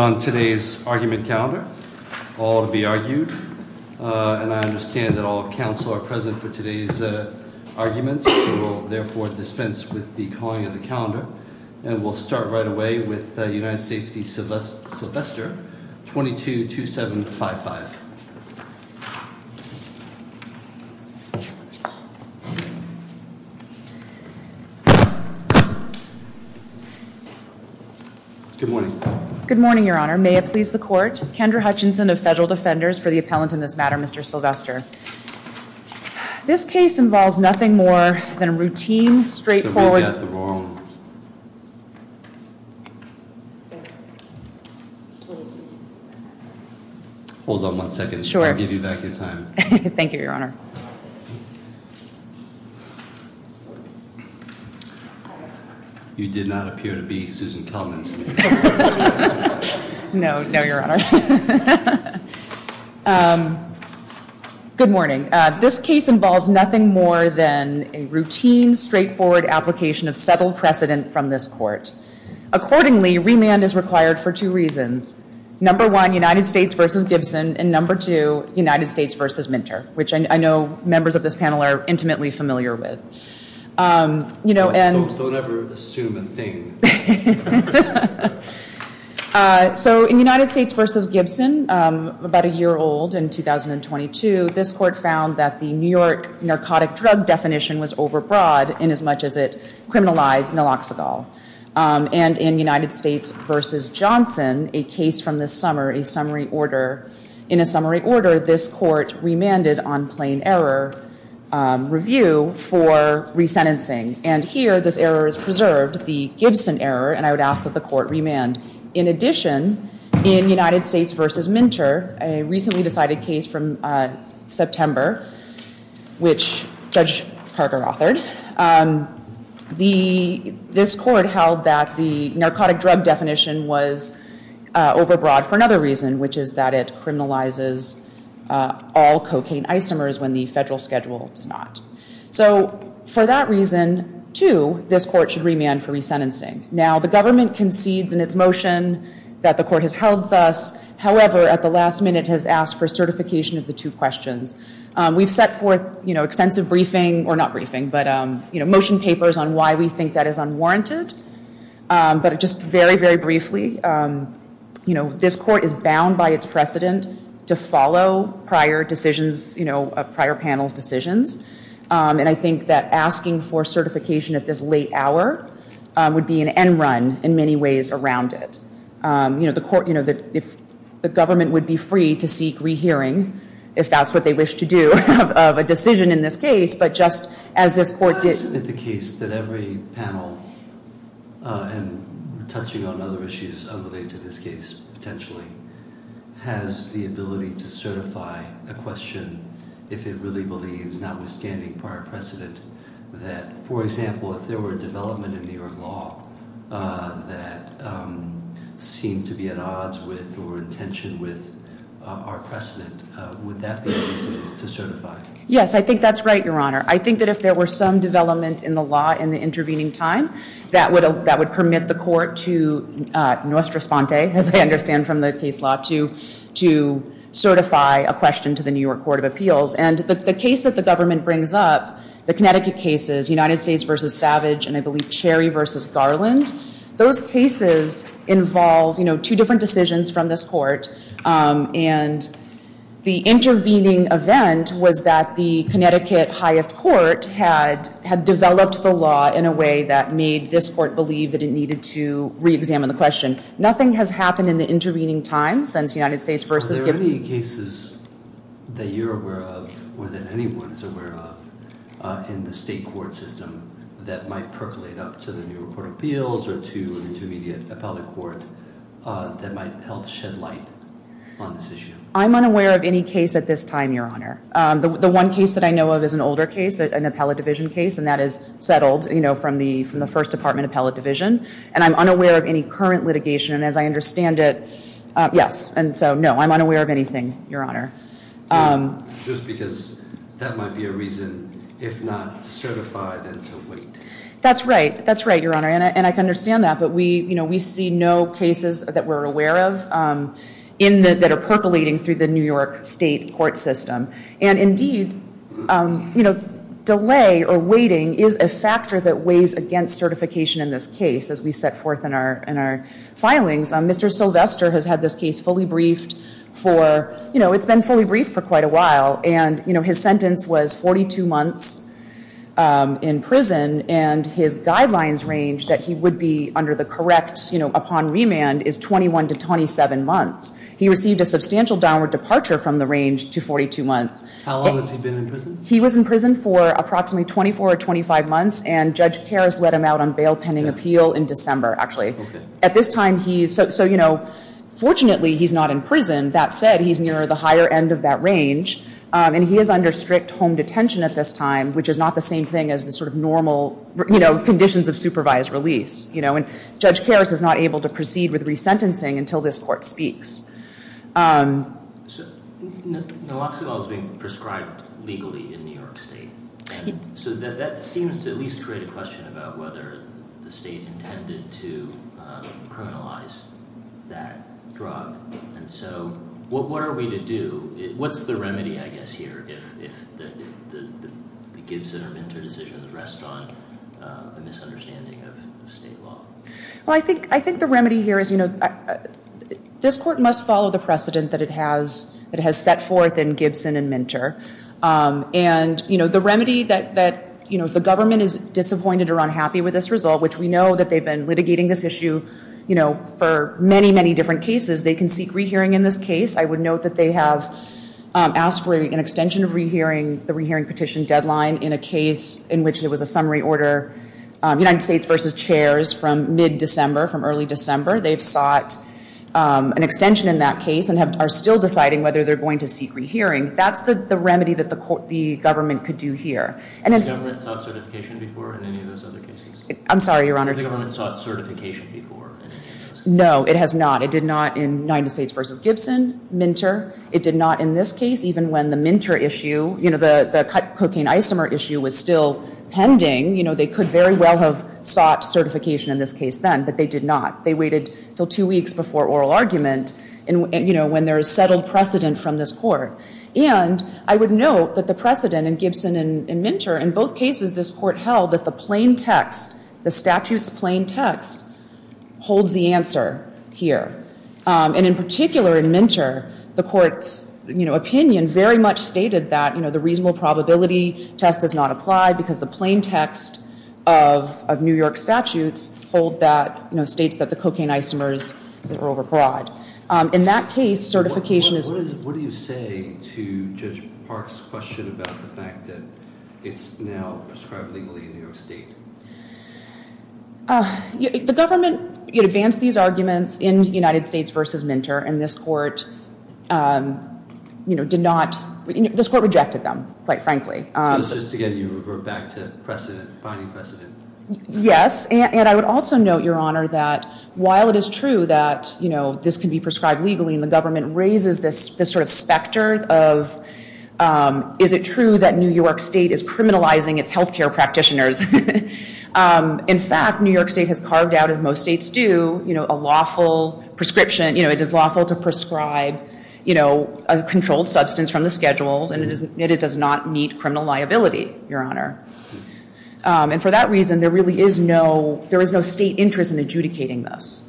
22-2755. Good morning. Good morning, Your Honor. I'm going to begin the hearing on the case. Thank you, Your Honor. May it please the court. Kendra Hutchinson of Federal Defenders for the appellant in this matter, Mr. Sylvester. This case involves nothing more than a routine, straightforward. Hold on one second. Sure. I'll give you back your time. Thank you, Your Honor. You did not appear to be Susan Kelman. No, no, Your Honor. Good morning. This case involves nothing more than a routine, straightforward application of settled precedent from this court. Accordingly, remand is required for two reasons. Number one, United States v. Gibson, and number two, United States v. Minter, which I know members of this panel are intimately familiar with. Don't ever assume a thing. Thank you. So in United States v. Gibson, about a year old in 2022, this court found that the New York narcotic drug definition was overbroad in as much as it criminalized Naloxonol. And in United States v. Johnson, a case from this summer, a summary order, in a summary order, this court remanded on plain error review for resentencing. And here, this error is preserved, the Gibson error, and I would ask that the court remand. In addition, in United States v. Minter, a recently decided case from September, which Judge Parker authored, this court held that the narcotic drug definition was overbroad for another reason, which is that it criminalizes all cocaine isomers when the federal schedule does not. So for that reason, too, this court should remand for resentencing. Now, the government concedes in its motion that the court has held thus. However, at the last minute, has asked for certification of the two questions. We've set forth extensive briefing, or not briefing, but motion papers on why we think that is unwarranted. But just very, very briefly, you know, this court is bound by its precedent to follow prior decisions, you know, prior panel's decisions. And I think that asking for certification at this late hour would be an end run in many ways around it. You know, the court, you know, the government would be free to seek rehearing, if that's what they wish to do, of a decision in this case. But just as this court did- I'm interested in the case that every panel, and touching on other issues unrelated to this case, potentially, has the ability to certify a question, if it really believes, notwithstanding prior precedent, that, for example, if there were a development in New York law that seemed to be at odds with or in tension with our precedent, would that be a reason to certify? Yes, I think that's right, Your Honor. I think that if there were some development in the law in the intervening time, that would permit the court to, nostra sponte, as I understand from the case law, to certify a question to the New York Court of Appeals. And the case that the government brings up, the Connecticut cases, United States v. Savage, and I believe Cherry v. Garland, those cases involve, you know, two different decisions from this court. And the intervening event was that the Connecticut highest court had developed the law in a way that made this court believe that it needed to re-examine the question. Nothing has happened in the intervening time since United States v. Are there any cases that you're aware of, or that anyone is aware of, in the state court system that might percolate up to the New York Court of Appeals or to an intermediate appellate court that might help shed light on this issue? I'm unaware of any case at this time, Your Honor. The one case that I know of is an older case, an appellate division case, and that is settled, you know, from the first department appellate division. And I'm unaware of any current litigation, and as I understand it, yes. And so, no, I'm unaware of anything, Your Honor. Just because that might be a reason, if not to certify, then to wait. That's right. That's right, Your Honor. And I can understand that, but we, you know, we see no cases that we're aware of that are percolating through the New York state court system. And indeed, you know, delay or waiting is a factor that weighs against certification in this case as we set forth in our filings. Mr. Sylvester has had this case fully briefed for, you know, it's been fully briefed for quite a while. And, you know, his sentence was 42 months in prison, and his guidelines range that he would be under the correct, you know, upon remand is 21 to 27 months. He received a substantial downward departure from the range to 42 months. How long has he been in prison? He was in prison for approximately 24 or 25 months, and Judge Karas let him out on bail pending appeal in December, actually. Okay. At this time he is, so, you know, fortunately he's not in prison. That said, he's near the higher end of that range, and he is under strict home detention at this time, which is not the same thing as the sort of normal, you know, conditions of supervised release, you know. And Judge Karas is not able to proceed with resentencing until this court speaks. Naloxone was being prescribed legally in New York state. So that seems to at least create a question about whether the state intended to criminalize that drug. And so what are we to do? What's the remedy, I guess, here if the Gibson or Minter decisions rest on a misunderstanding of state law? Well, I think the remedy here is, you know, this court must follow the precedent that it has set forth in Gibson and Minter. And, you know, the remedy that, you know, if the government is disappointed or unhappy with this result, which we know that they've been litigating this issue, you know, for many, many different cases, they can seek rehearing in this case. I would note that they have asked for an extension of the rehearing petition deadline in a case in which there was a summary order, United States v. Chairs, from mid-December, from early December. They've sought an extension in that case and are still deciding whether they're going to seek rehearing. That's the remedy that the government could do here. Has the government sought certification before in any of those other cases? I'm sorry, Your Honor. Has the government sought certification before in any of those? No, it has not. It did not in United States v. Gibson, Minter. It did not in this case, even when the Minter issue, you know, the cocaine isomer issue was still pending. You know, they could very well have sought certification in this case then, but they did not. They waited until two weeks before oral argument, you know, when there is settled precedent from this court. And I would note that the precedent in Gibson and Minter, in both cases, this court held that the plain text, the statute's plain text, holds the answer here. And in particular in Minter, the court's, you know, opinion very much stated that, you know, the reasonable probability test does not apply because the plain text of New York statutes hold that, you know, states that the cocaine isomers are overbroad. In that case, certification is... What do you say to Judge Park's question about the fact that it's now prescribed legally in New York State? The government advanced these arguments in United States v. Minter, and this court, you know, did not... This court rejected them, quite frankly. So this is, again, you revert back to precedent, binding precedent. Yes. And I would also note, Your Honor, that while it is true that, you know, this can be prescribed legally and the government raises this sort of specter of, is it true that New York State is criminalizing its health care practitioners? In fact, New York State has carved out, as most states do, you know, a lawful prescription. You know, it is lawful to prescribe, you know, a controlled substance from the schedules, and it does not meet criminal liability, Your Honor. And for that reason, there really is no... There is no state interest in adjudicating this.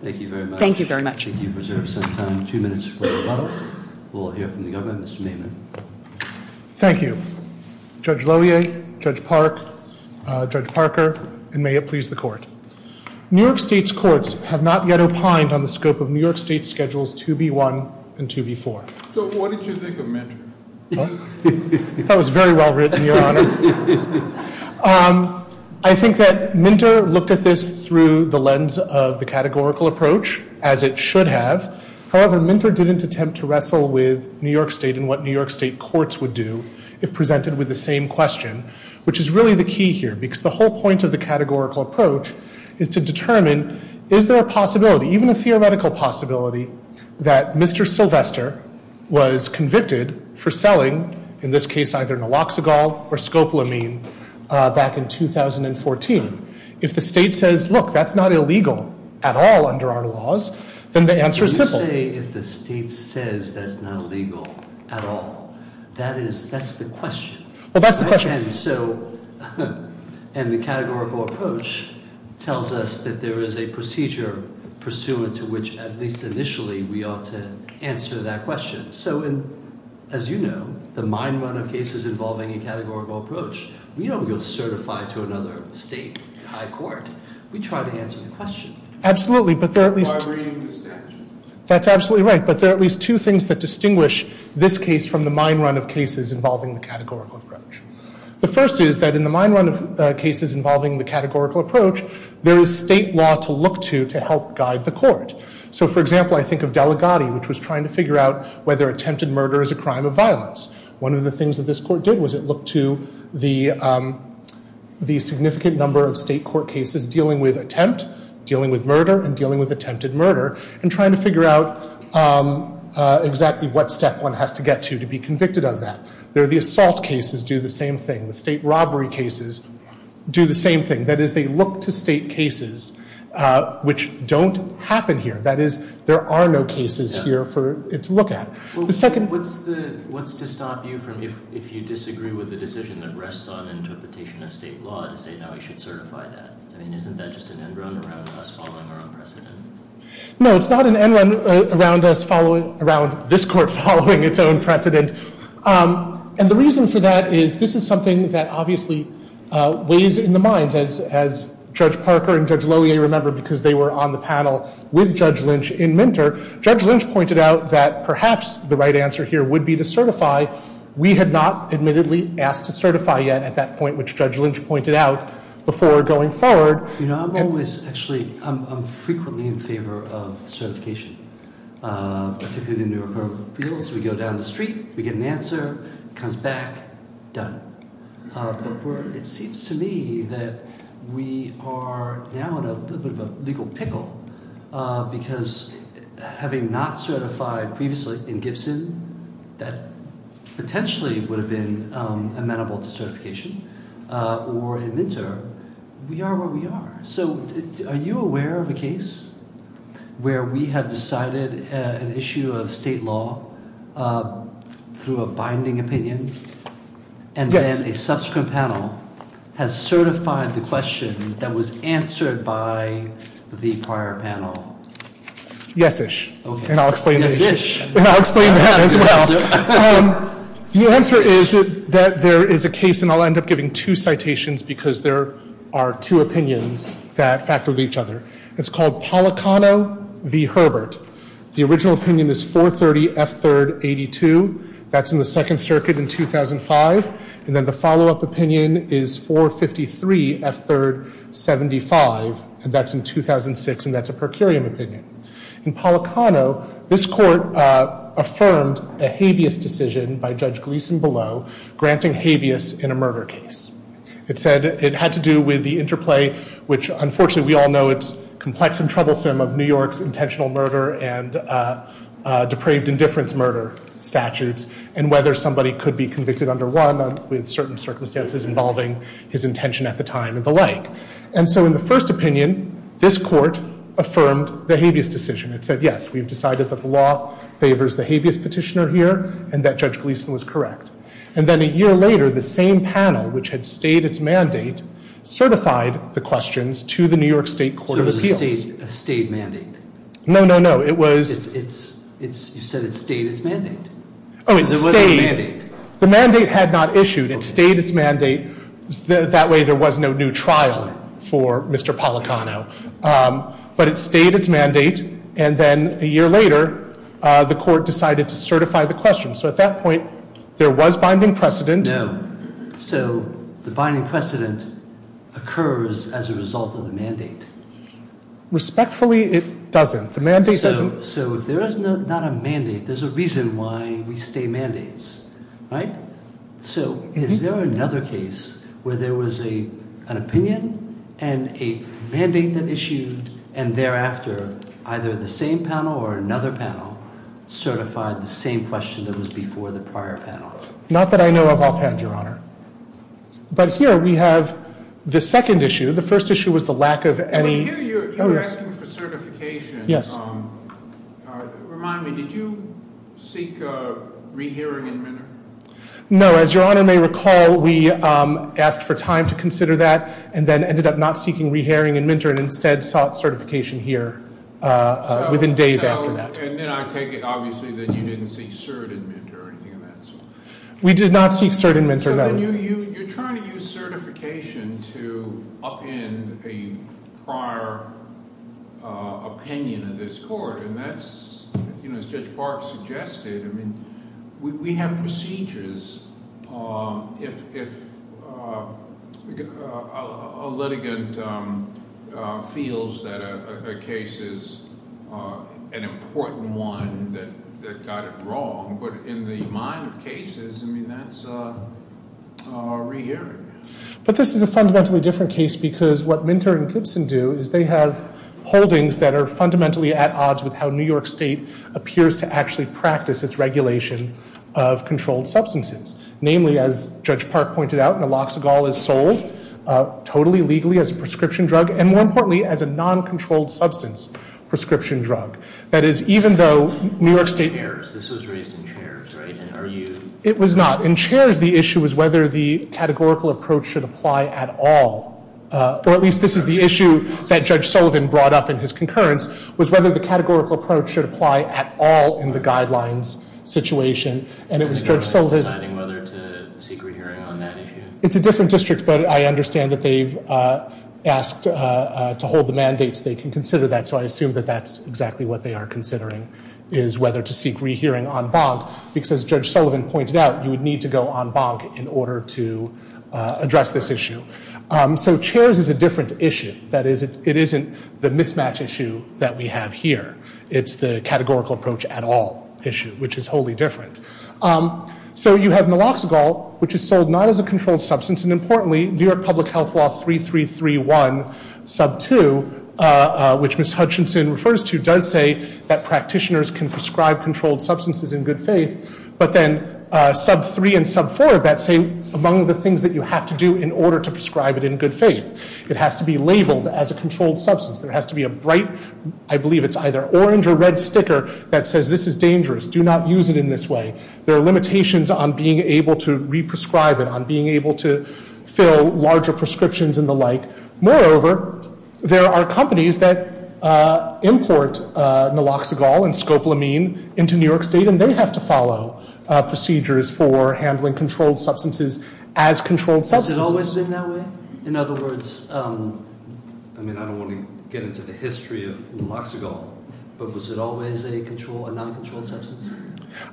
Thank you very much. Thank you very much. Thank you for serving some time. Two minutes for rebuttal. We'll hear from the government. Mr. Maiman. Thank you. Judge Lohier, Judge Park, Judge Parker, and may it please the Court. New York State's courts have not yet opined on the scope of New York State's schedules 2B1 and 2B4. So what did you think of Minter? That was very well written, Your Honor. I think that Minter looked at this through the lens of the categorical approach, as it should have. However, Minter didn't attempt to wrestle with New York State and what New York State courts would do if presented with the same question, which is really the key here, because the whole point of the categorical approach is to determine, is there a possibility, even a theoretical possibility, that Mr. Sylvester was convicted for selling, in this case, either naloxone or scopolamine back in 2014? If the state says, look, that's not illegal at all under our laws, then the answer is simple. You say if the state says that's not illegal at all. That's the question. Well, that's the question. And the categorical approach tells us that there is a procedure pursuant to which, at least initially, we ought to answer that question. So as you know, the mine run of cases involving a categorical approach, we don't go certify to another state high court. We try to answer the question. Absolutely, but there are at least- By reading the statute. That's absolutely right. But there are at least two things that distinguish this case from the mine run of cases involving the categorical approach. The first is that in the mine run of cases involving the categorical approach, there is state law to look to to help guide the court. So, for example, I think of Delegati, which was trying to figure out whether attempted murder is a crime of violence. One of the things that this court did was it looked to the significant number of state court cases dealing with attempt, dealing with murder, and dealing with attempted murder and trying to figure out exactly what step one has to get to to be convicted of that. The assault cases do the same thing. The state robbery cases do the same thing. That is, they look to state cases which don't happen here. That is, there are no cases here for it to look at. What's to stop you if you disagree with the decision that rests on interpretation of state law to say, no, we should certify that? I mean, isn't that just an end run around us following our own precedent? No, it's not an end run around this court following its own precedent. And the reason for that is this is something that obviously weighs in the minds, as Judge Parker and Judge Lohier remember because they were on the panel with Judge Lynch in Minter. Judge Lynch pointed out that perhaps the right answer here would be to certify. We had not admittedly asked to certify yet at that point, which Judge Lynch pointed out, before going forward. You know, I'm always, actually, I'm frequently in favor of certification. But typically the New Yorker feels we go down the street, we get an answer, comes back, done. But it seems to me that we are now in a bit of a legal pickle because having not certified previously in Gibson, that potentially would have been amenable to certification, or in Minter, we are where we are. So are you aware of a case where we have decided an issue of state law through a binding opinion? Yes. And then a subsequent panel has certified the question that was answered by the prior panel? Yes-ish. Okay. I'll explain that as well. The answer is that there is a case, and I'll end up giving two citations because there are two opinions that factor with each other. It's called Policano v. Herbert. The original opinion is 430 F. 3rd 82. That's in the Second Circuit in 2005. And then the follow-up opinion is 453 F. 3rd 75. And that's in 2006, and that's a per curiam opinion. In Policano, this court affirmed a habeas decision by Judge Gleeson-Below granting habeas in a murder case. It said it had to do with the interplay, which unfortunately we all know it's complex and troublesome, of New York's intentional murder and depraved indifference murder statutes and whether somebody could be convicted under one with certain circumstances involving his intention at the time and the like. And so in the first opinion, this court affirmed the habeas decision. It said, yes, we've decided that the law favors the habeas petitioner here and that Judge Gleeson was correct. And then a year later, the same panel, which had stayed its mandate, certified the questions to the New York State Court of Appeals. So it was a stayed mandate? No, no, no. You said it stayed its mandate. Oh, it stayed. Because it was a mandate. The mandate had not issued. It stayed its mandate. That way there was no new trial for Mr. Policano. But it stayed its mandate. And then a year later, the court decided to certify the question. So at that point, there was binding precedent. No. So the binding precedent occurs as a result of the mandate. Respectfully, it doesn't. The mandate doesn't. So if there is not a mandate, there's a reason why we stay mandates, right? So is there another case where there was an opinion and a mandate that issued, and thereafter either the same panel or another panel certified the same question that was before the prior panel? Not that I know of offhand, Your Honor. But here we have the second issue. The first issue was the lack of any- Well, here you're asking for certification. Yes. Remind me, did you seek a rehearing and mentor? No. As Your Honor may recall, we asked for time to consider that and then ended up not seeking rehearing and mentor and instead sought certification here within days after that. And then I take it, obviously, that you didn't seek cert and mentor or anything of that sort. We did not seek cert and mentor, no. You're trying to use certification to upend a prior opinion of this court, and that's, as Judge Barff suggested, I mean we have procedures if a litigant feels that a case is an important one that got it wrong. But in the mind of cases, I mean that's a rehearing. But this is a fundamentally different case because what Minter and Gibson do is they have holdings that are fundamentally at odds with how New York State appears to actually practice its regulation of controlled substances. Namely, as Judge Park pointed out, naloxagol is sold totally legally as a prescription drug and more importantly as a non-controlled substance prescription drug. That is, even though New York State- This was raised in chairs, right? It was not. In chairs, the issue was whether the categorical approach should apply at all, or at least this is the issue that Judge Sullivan brought up in his concurrence, was whether the categorical approach should apply at all in the guidelines situation. And it was Judge Sullivan- And no one's deciding whether to seek rehearing on that issue? It's a different district, but I understand that they've asked to hold the mandates. They can consider that, so I assume that that's exactly what they are considering, is whether to seek rehearing on BOG, because as Judge Sullivan pointed out, you would need to go on BOG in order to address this issue. So chairs is a different issue. That is, it isn't the mismatch issue that we have here. It's the categorical approach at all issue, which is wholly different. So you have naloxagol, which is sold not as a controlled substance, and importantly, New York Public Health Law 3331 sub 2, which Ms. Hutchinson refers to, does say that practitioners can prescribe controlled substances in good faith, but then sub 3 and sub 4 of that say among the things that you have to do in order to prescribe it in good faith. It has to be labeled as a controlled substance. There has to be a bright, I believe it's either orange or red sticker, that says this is dangerous. Do not use it in this way. There are limitations on being able to re-prescribe it, on being able to fill larger prescriptions and the like. Moreover, there are companies that import naloxagol and scopolamine into New York State, and they have to follow procedures for handling controlled substances as controlled substances. Has it always been that way? In other words, I don't want to get into the history of naloxagol, but was it always a non-controlled substance?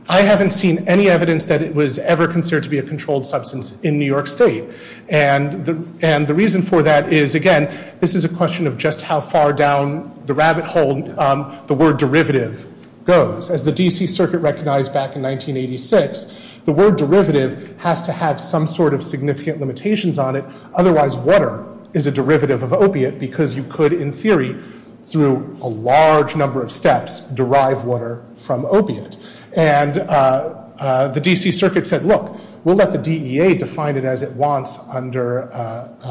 I haven't seen any evidence that it was ever considered to be a controlled substance in New York State. And the reason for that is, again, this is a question of just how far down the rabbit hole the word derivative goes. As the D.C. Circuit recognized back in 1986, the word derivative has to have some sort of significant limitations on it. And the D.C. Circuit said, look, we'll let the DEA define it as it wants under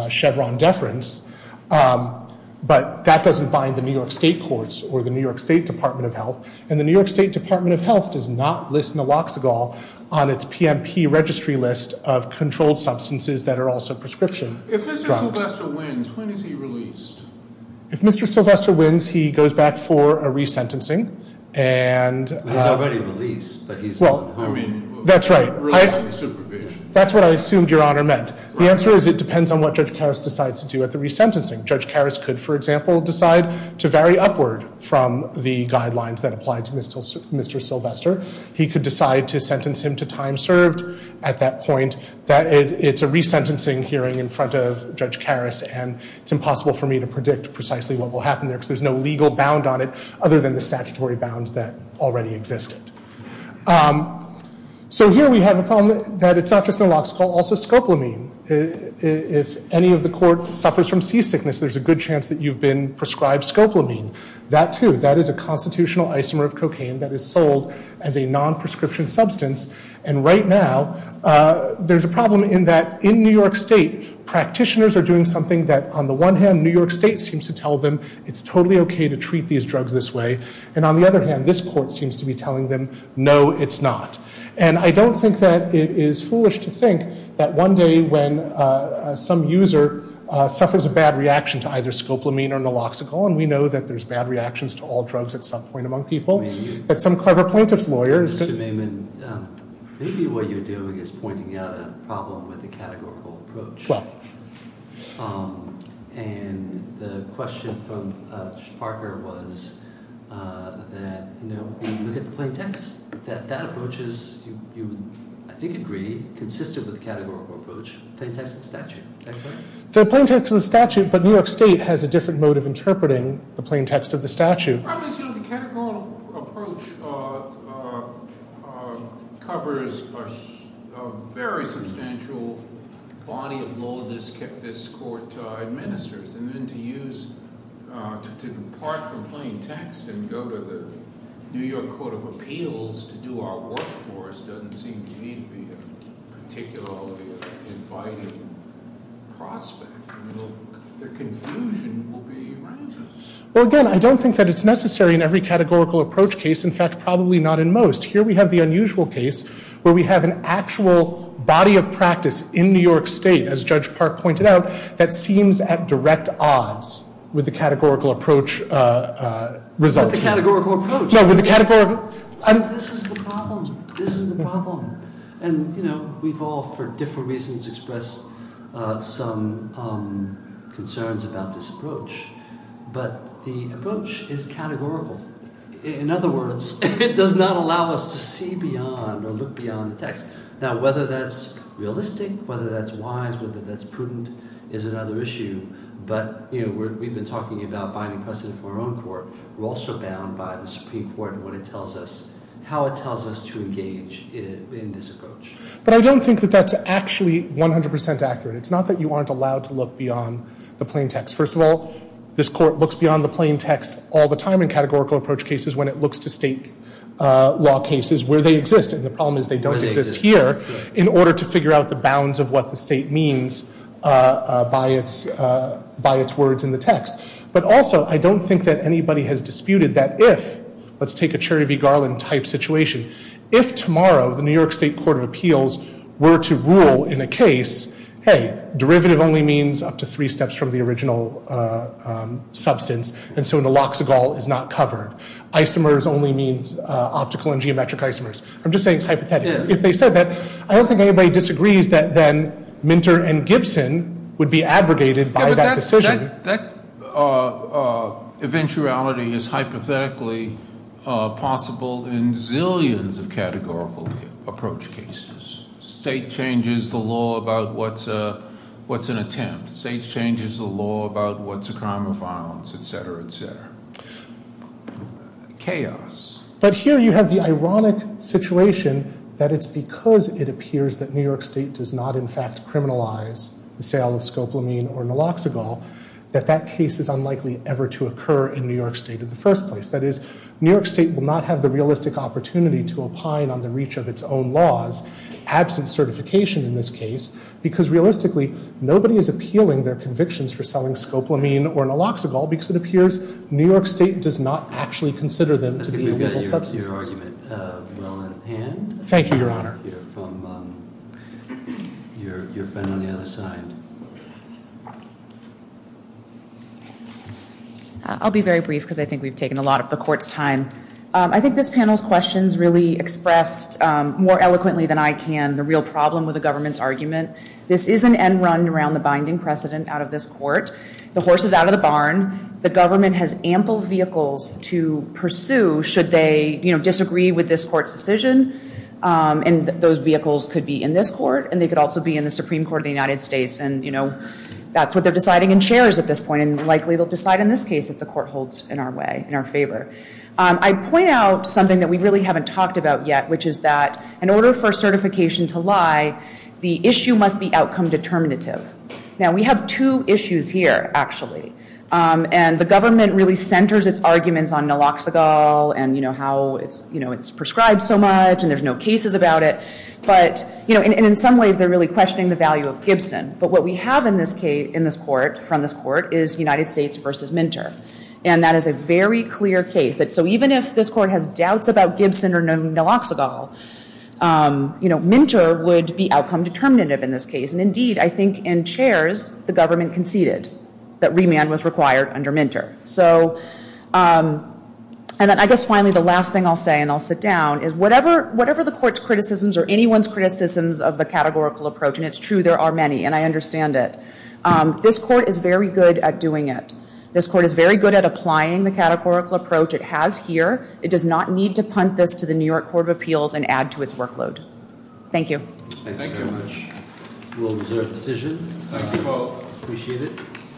Chevron deference, but that doesn't bind the New York State courts or the New York State Department of Health. And the New York State Department of Health does not list naloxagol on its PMP registry list of controlled substances that are also prescription drugs. If Mr. Sylvester wins, when is he released? If Mr. Sylvester wins, he goes back for a resentencing. He's already released. That's right. That's what I assumed Your Honor meant. The answer is it depends on what Judge Karras decides to do at the resentencing. Judge Karras could, for example, decide to vary upward from the guidelines that apply to Mr. Sylvester. He could decide to sentence him to time served at that point. It's a resentencing hearing in front of Judge Karras, and it's impossible for me to predict precisely what will happen there because there's no legal bound on it other than the statutory bounds that already existed. So here we have a problem that it's not just naloxagol, also scoplamine. If any of the court suffers from seasickness, there's a good chance that you've been prescribed scoplamine. That too, that is a constitutional isomer of cocaine that is sold as a non-prescription substance. And right now, there's a problem in that in New York State, practitioners are doing something that on the one hand, New York State seems to tell them it's totally okay to treat these drugs this way. And on the other hand, this court seems to be telling them no, it's not. And I don't think that it is foolish to think that one day when some user suffers a bad reaction to either scoplamine or naloxagol, and we know that there's bad reactions to all drugs at some point among people, that some clever plaintiff's lawyer is going to... Mr. Maimon, maybe what you're doing is pointing out a problem with the categorical approach. Well... And the question from Parker was that, you know, when you look at the plaintext, that that approach is, you, I think, agree, consistent with the categorical approach, plaintext and statute. The plaintext and statute, but New York State has a different mode of interpreting the plaintext of the statute. The problem is, you know, the categorical approach covers a very substantial body of law this court administers. And then to use, to depart from plaintext and go to the New York Court of Appeals to do our work for us doesn't seem to me to be a particularly inviting prospect. The confusion will be around us. Well, again, I don't think that it's necessary in every categorical approach case. In fact, probably not in most. Here we have the unusual case where we have an actual body of practice in New York State, as Judge Park pointed out, that seems at direct odds with the categorical approach result. With the categorical approach. No, with the categorical... This is the problem. This is the problem. And, you know, we've all, for different reasons, expressed some concerns about this approach. But the approach is categorical. In other words, it does not allow us to see beyond or look beyond the text. Now, whether that's realistic, whether that's wise, whether that's prudent is another issue. But, you know, we've been talking about binding precedent from our own court. We're also bound by the Supreme Court and what it tells us, how it tells us to engage in this approach. But I don't think that that's actually 100% accurate. It's not that you aren't allowed to look beyond the plaintext. First of all, this court looks beyond the plaintext all the time in categorical approach cases when it looks to state law cases where they exist. And the problem is they don't exist here in order to figure out the bounds of what the state means by its words in the text. But also, I don't think that anybody has disputed that if, let's take a Cherry v. Garland type situation, if tomorrow the New York State Court of Appeals were to rule in a case, hey, derivative only means up to three steps from the original substance, and so naloxagol is not covered. Isomers only means optical and geometric isomers. I'm just saying hypothetically. If they said that, I don't think anybody disagrees that then Minter and Gibson would be abrogated by that decision. That eventuality is hypothetically possible in zillions of categorical approach cases. State changes the law about what's an attempt. State changes the law about what's a crime of violence, et cetera, et cetera. Chaos. But here you have the ironic situation that it's because it appears that New York State does not in fact criminalize the sale of scoplamine or naloxagol that that case is unlikely ever to occur in New York State in the first place. That is, New York State will not have the realistic opportunity to opine on the reach of its own laws, absent certification in this case, because realistically nobody is appealing their convictions for selling scoplamine or naloxagol because it appears New York State does not actually consider them to be illegal substances. I think we've got your argument well in hand. Thank you, Your Honor. We'll hear from your friend on the other side. I'll be very brief because I think we've taken a lot of the court's time. I think this panel's questions really expressed more eloquently than I can the real problem with the government's argument. This is an end run around the binding precedent out of this court. The horse is out of the barn. The government has ample vehicles to pursue should they disagree with this court's decision, and those vehicles could be in this court and they could also be in the Supreme Court of the United States, and that's what they're deciding in chairs at this point, and likely they'll decide in this case if the court holds in our way, in our favor. I point out something that we really haven't talked about yet, which is that in order for certification to lie, the issue must be outcome determinative. Now, we have two issues here, actually, and the government really centers its arguments on Naloxonol and how it's prescribed so much and there's no cases about it, and in some ways they're really questioning the value of Gibson, but what we have in this court, from this court, is United States versus Minter, and that is a very clear case. So even if this court has doubts about Gibson or Naloxonol, Minter would be outcome determinative in this case, and indeed I think in chairs the government conceded that remand was required under Minter. So, and then I guess finally the last thing I'll say, and I'll sit down, is whatever the court's criticisms or anyone's criticisms of the categorical approach, and it's true there are many and I understand it, this court is very good at doing it. This court is very good at applying the categorical approach it has here. It does not need to punt this to the New York Court of Appeals and add to its workload. Thank you. Thank you very much. A well-deserved decision. Thank you both. Appreciate it.